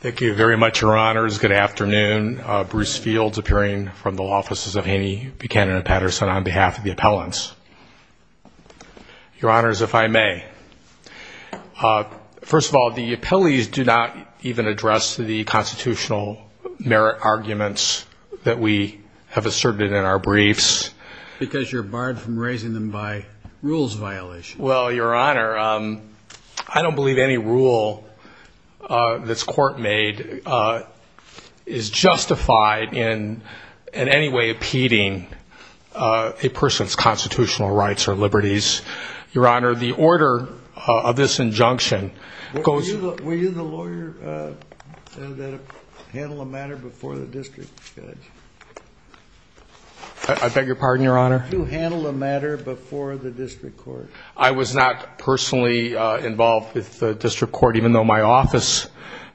Thank you very much, Your Honors. Good afternoon. Bruce Fields appearing from the Law Offices of Haney, Buchanan & Patterson on behalf of the appellants. Your Honors, if I may. First of all, the appellees do not even address the constitutional merit arguments that we have asserted in our briefs. Because you're barred from raising them by rules violation. Well, Your Honor, I don't believe any rule that's court made is justified in any way impeding a person's constitutional rights or liberties. Your Honor, the order of this injunction goes... Were you the lawyer that handled the matter before the district judge? I beg your pardon, Your Honor? Did you handle the matter before the district court? I was not personally involved with the district court, even though my office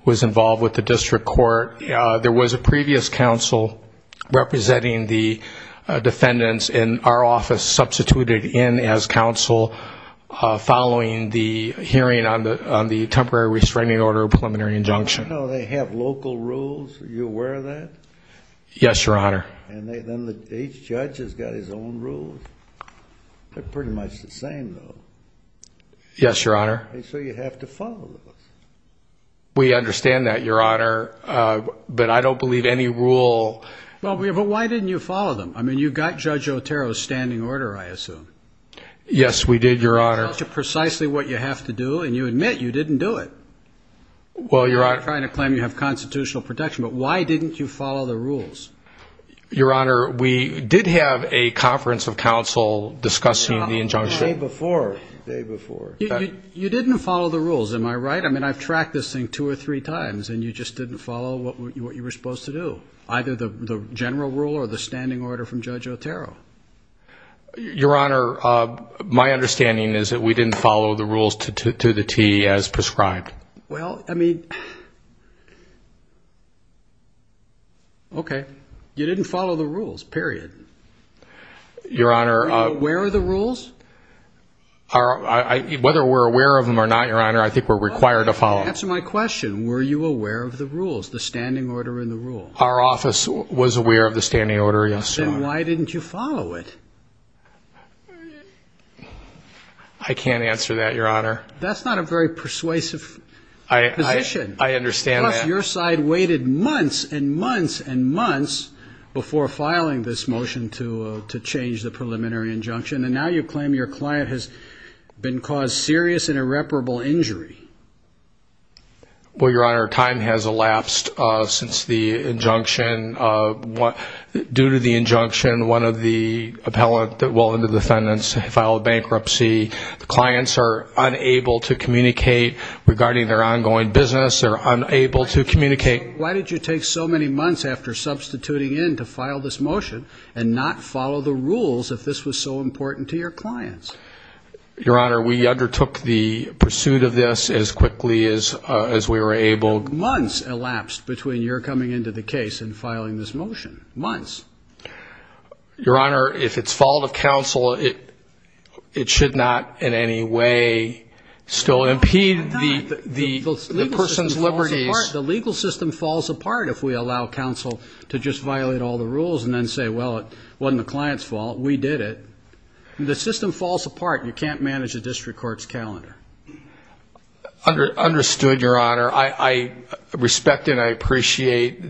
was involved with the district court. There was a previous counsel representing the defendants in our office substituted in as counsel following the hearing on the temporary restraining order of preliminary injunction. I know they have local rules. Are you aware of that? Yes, Your Honor. And then each judge has got his own rules. They're pretty much the same, though. Yes, Your Honor. And so you have to follow those. We understand that, Your Honor, but I don't believe any rule... Well, but why didn't you follow them? I mean, you got Judge Otero's standing order, I assume. Yes, we did, Your Honor. That tells you precisely what you have to do, and you admit you didn't do it. Well, Your Honor... I'm not trying to claim you have constitutional protection, but why didn't you follow the rules? Your Honor, we did have a conference of counsel discussing the injunction. The day before, the day before. You didn't follow the rules, am I right? I mean, I've tracked this thing two or three times, and you just didn't follow what you were supposed to do, either the general rule or the standing order from Judge Otero. Your Honor, my understanding is that we didn't follow the rules to the T as prescribed. Well, I mean... Okay. You didn't follow the rules, period. Your Honor... Were you aware of the rules? Whether we're aware of them or not, Your Honor, I think we're required to follow them. Answer my question. Were you aware of the rules, the standing order and the rules? Our office was aware of the standing order, yes, Your Honor. Then why didn't you follow it? I can't answer that, Your Honor. That's not a very persuasive position. I understand that. Your side waited months and months and months before filing this motion to change the preliminary injunction, and now you claim your client has been caused serious and irreparable injury. Well, Your Honor, time has elapsed since the injunction. Due to the injunction, one of the appellant, well, the defendants, filed bankruptcy. The clients are unable to communicate regarding their ongoing business. They're unable to communicate. Why did you take so many months after substituting in to file this motion and not follow the rules if this was so important to your clients? Your Honor, we undertook the pursuit of this as quickly as we were able. Months elapsed between your coming into the case and filing this motion. Months. Your Honor, if it's fault of counsel, it should not in any way still impede the person's liberties. The legal system falls apart if we allow counsel to just violate all the rules and then say, well, it wasn't the client's fault, we did it. The system falls apart. You can't manage a district court's calendar. Understood, Your Honor. Your Honor, I respect and I appreciate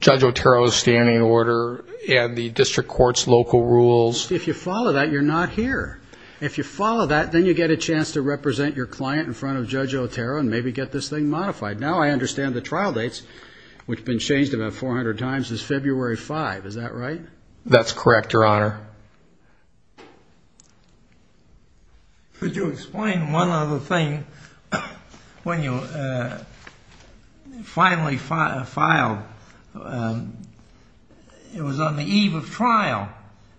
Judge Otero's standing order and the district court's local rules. If you follow that, you're not here. If you follow that, then you get a chance to represent your client in front of Judge Otero and maybe get this thing modified. Now I understand the trial dates, which have been changed about 400 times, is February 5. Is that right? That's correct, Your Honor. Could you explain one other thing? When you finally filed, it was on the eve of trial.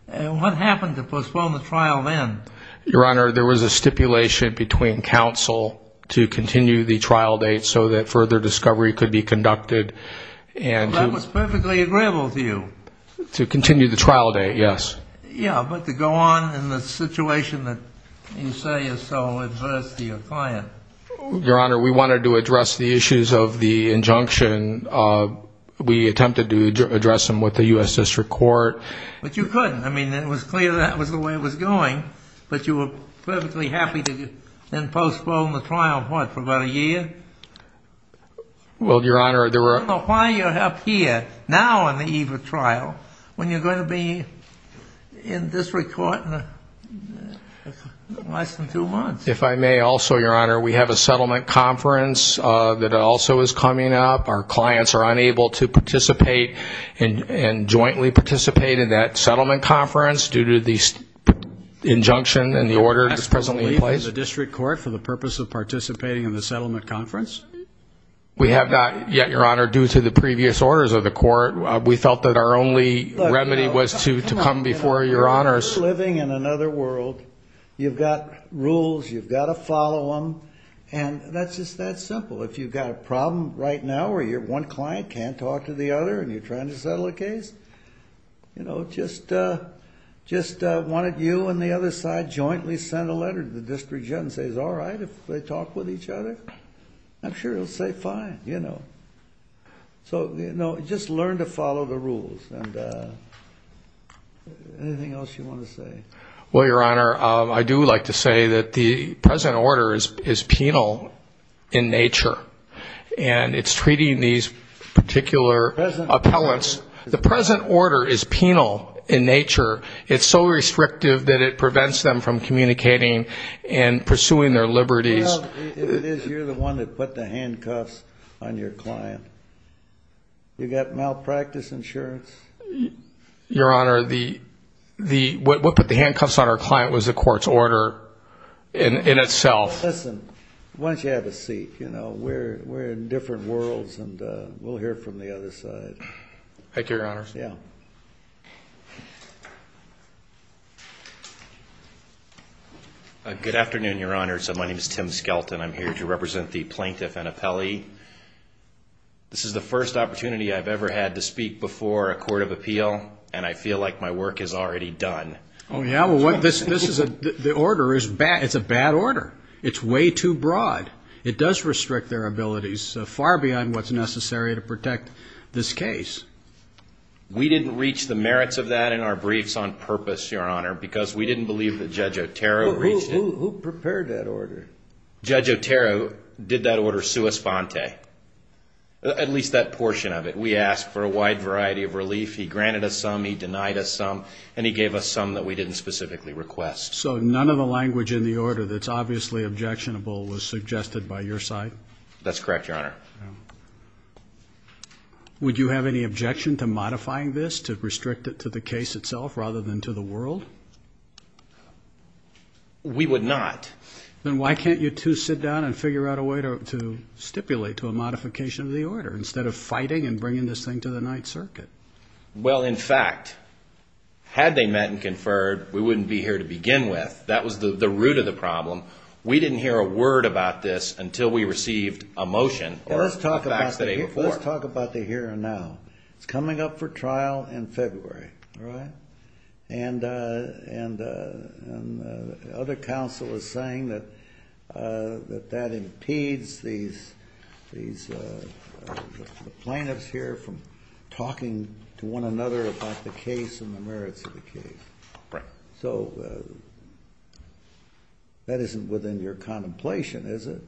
What happened to postpone the trial then? Your Honor, there was a stipulation between counsel to continue the trial date so that further discovery could be conducted. That was perfectly agreeable to you. To continue the trial date, yes. Yes, but to go on in the situation that you say is so adverse to your client. Your Honor, we wanted to address the issues of the injunction. We attempted to address them with the U.S. District Court. But you couldn't. I mean, it was clear that was the way it was going, but you were perfectly happy to then postpone the trial, what, for about a year? Well, Your Honor, there were... I don't know why you're up here now on the eve of trial when you're going to be in district court in less than two months. If I may also, Your Honor, we have a settlement conference that also is coming up. Our clients are unable to participate and jointly participate in that settlement conference due to the injunction and the order that's presently in place. You're not going to leave the district court for the purpose of participating in the settlement conference? We have not yet, Your Honor, due to the previous orders of the court. We felt that our only remedy was to come before Your Honors. You're living in another world. You've got rules. You've got to follow them, and that's just that simple. If you've got a problem right now where one client can't talk to the other and you're trying to settle a case, just one of you and the other side jointly send a letter to the district judge and say, is it all right if they talk with each other? I'm sure he'll say fine, you know. So just learn to follow the rules. Anything else you want to say? Well, Your Honor, I do like to say that the present order is penal in nature, and it's treating these particular appellants. The present order is penal in nature. It's so restrictive that it prevents them from communicating and pursuing their liberties. Well, it is. You're the one that put the handcuffs on your client. You got malpractice insurance? Your Honor, what put the handcuffs on our client was the court's order in itself. Listen, why don't you have a seat? You know, we're in different worlds, and we'll hear from the other side. Thank you, Your Honor. Of course, yeah. Good afternoon, Your Honor. My name is Tim Skelton. I'm here to represent the plaintiff and appellee. This is the first opportunity I've ever had to speak before a court of appeal, and I feel like my work is already done. Oh, yeah? Well, the order is bad. It's a bad order. It's way too broad. It does restrict their abilities far beyond what's necessary to protect this case. We didn't reach the merits of that in our briefs on purpose, Your Honor, because we didn't believe that Judge Otero reached it. Who prepared that order? Judge Otero did that order sua sponte, at least that portion of it. We asked for a wide variety of relief. He granted us some, he denied us some, and he gave us some that we didn't specifically request. So none of the language in the order that's obviously objectionable was suggested by your side? That's correct, Your Honor. Would you have any objection to modifying this to restrict it to the case itself rather than to the world? We would not. Then why can't you two sit down and figure out a way to stipulate to a modification of the order instead of fighting and bringing this thing to the Ninth Circuit? Well, in fact, had they met and conferred, we wouldn't be here to begin with. That was the root of the problem. We didn't hear a word about this until we received a motion or the facts that they reported. Let's talk about the here and now. It's coming up for trial in February, all right? And the other counsel is saying that that impedes these plaintiffs here from talking to one another about the case and the merits of the case. Right. So that isn't within your contemplation, is it,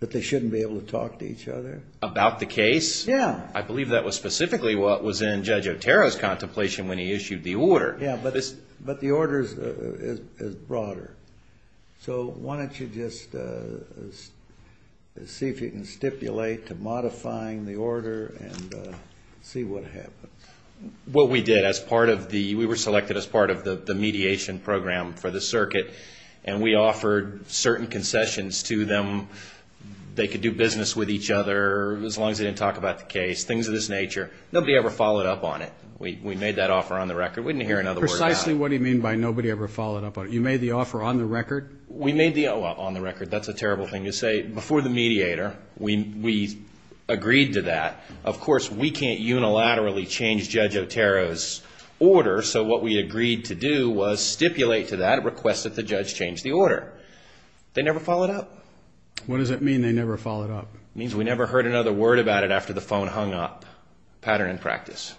that they shouldn't be able to talk to each other? About the case? Yeah. I believe that was specifically what was in Judge Otero's contemplation when he issued the order. Yeah, but the order is broader. So why don't you just see if you can stipulate to modifying the order and see what happens. Well, we did. We were selected as part of the mediation program for the circuit, and we offered certain concessions to them. They could do business with each other as long as they didn't talk about the case, things of this nature. Nobody ever followed up on it. We made that offer on the record. We didn't hear another word about it. Precisely what do you mean by nobody ever followed up on it? You made the offer on the record? We made the offer on the record. That's a terrible thing to say. Before the mediator, we agreed to that. Of course, we can't unilaterally change Judge Otero's order, so what we agreed to do was stipulate to that, request that the judge change the order. They never followed up. What does it mean they never followed up? It means we never heard another word about it after the phone hung up. Pattern in practice.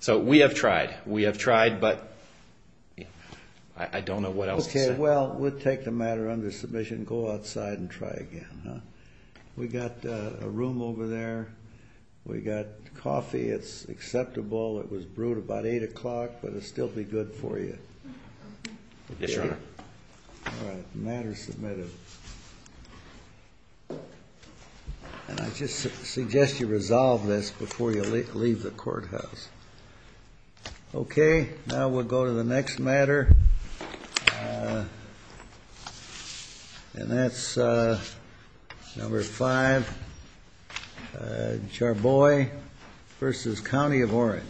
So we have tried. We have tried, but I don't know what else to say. Okay, well, we'll take the matter under submission, go outside, and try again. We got a room over there. We got coffee. It's acceptable. It was brewed about 8 o'clock, but it'll still be good for you. Yes, Your Honor. All right, matter submitted. And I just suggest you resolve this before you leave the courthouse. Okay, now we'll go to the next matter. And that's number five, Charboy versus County of Orange.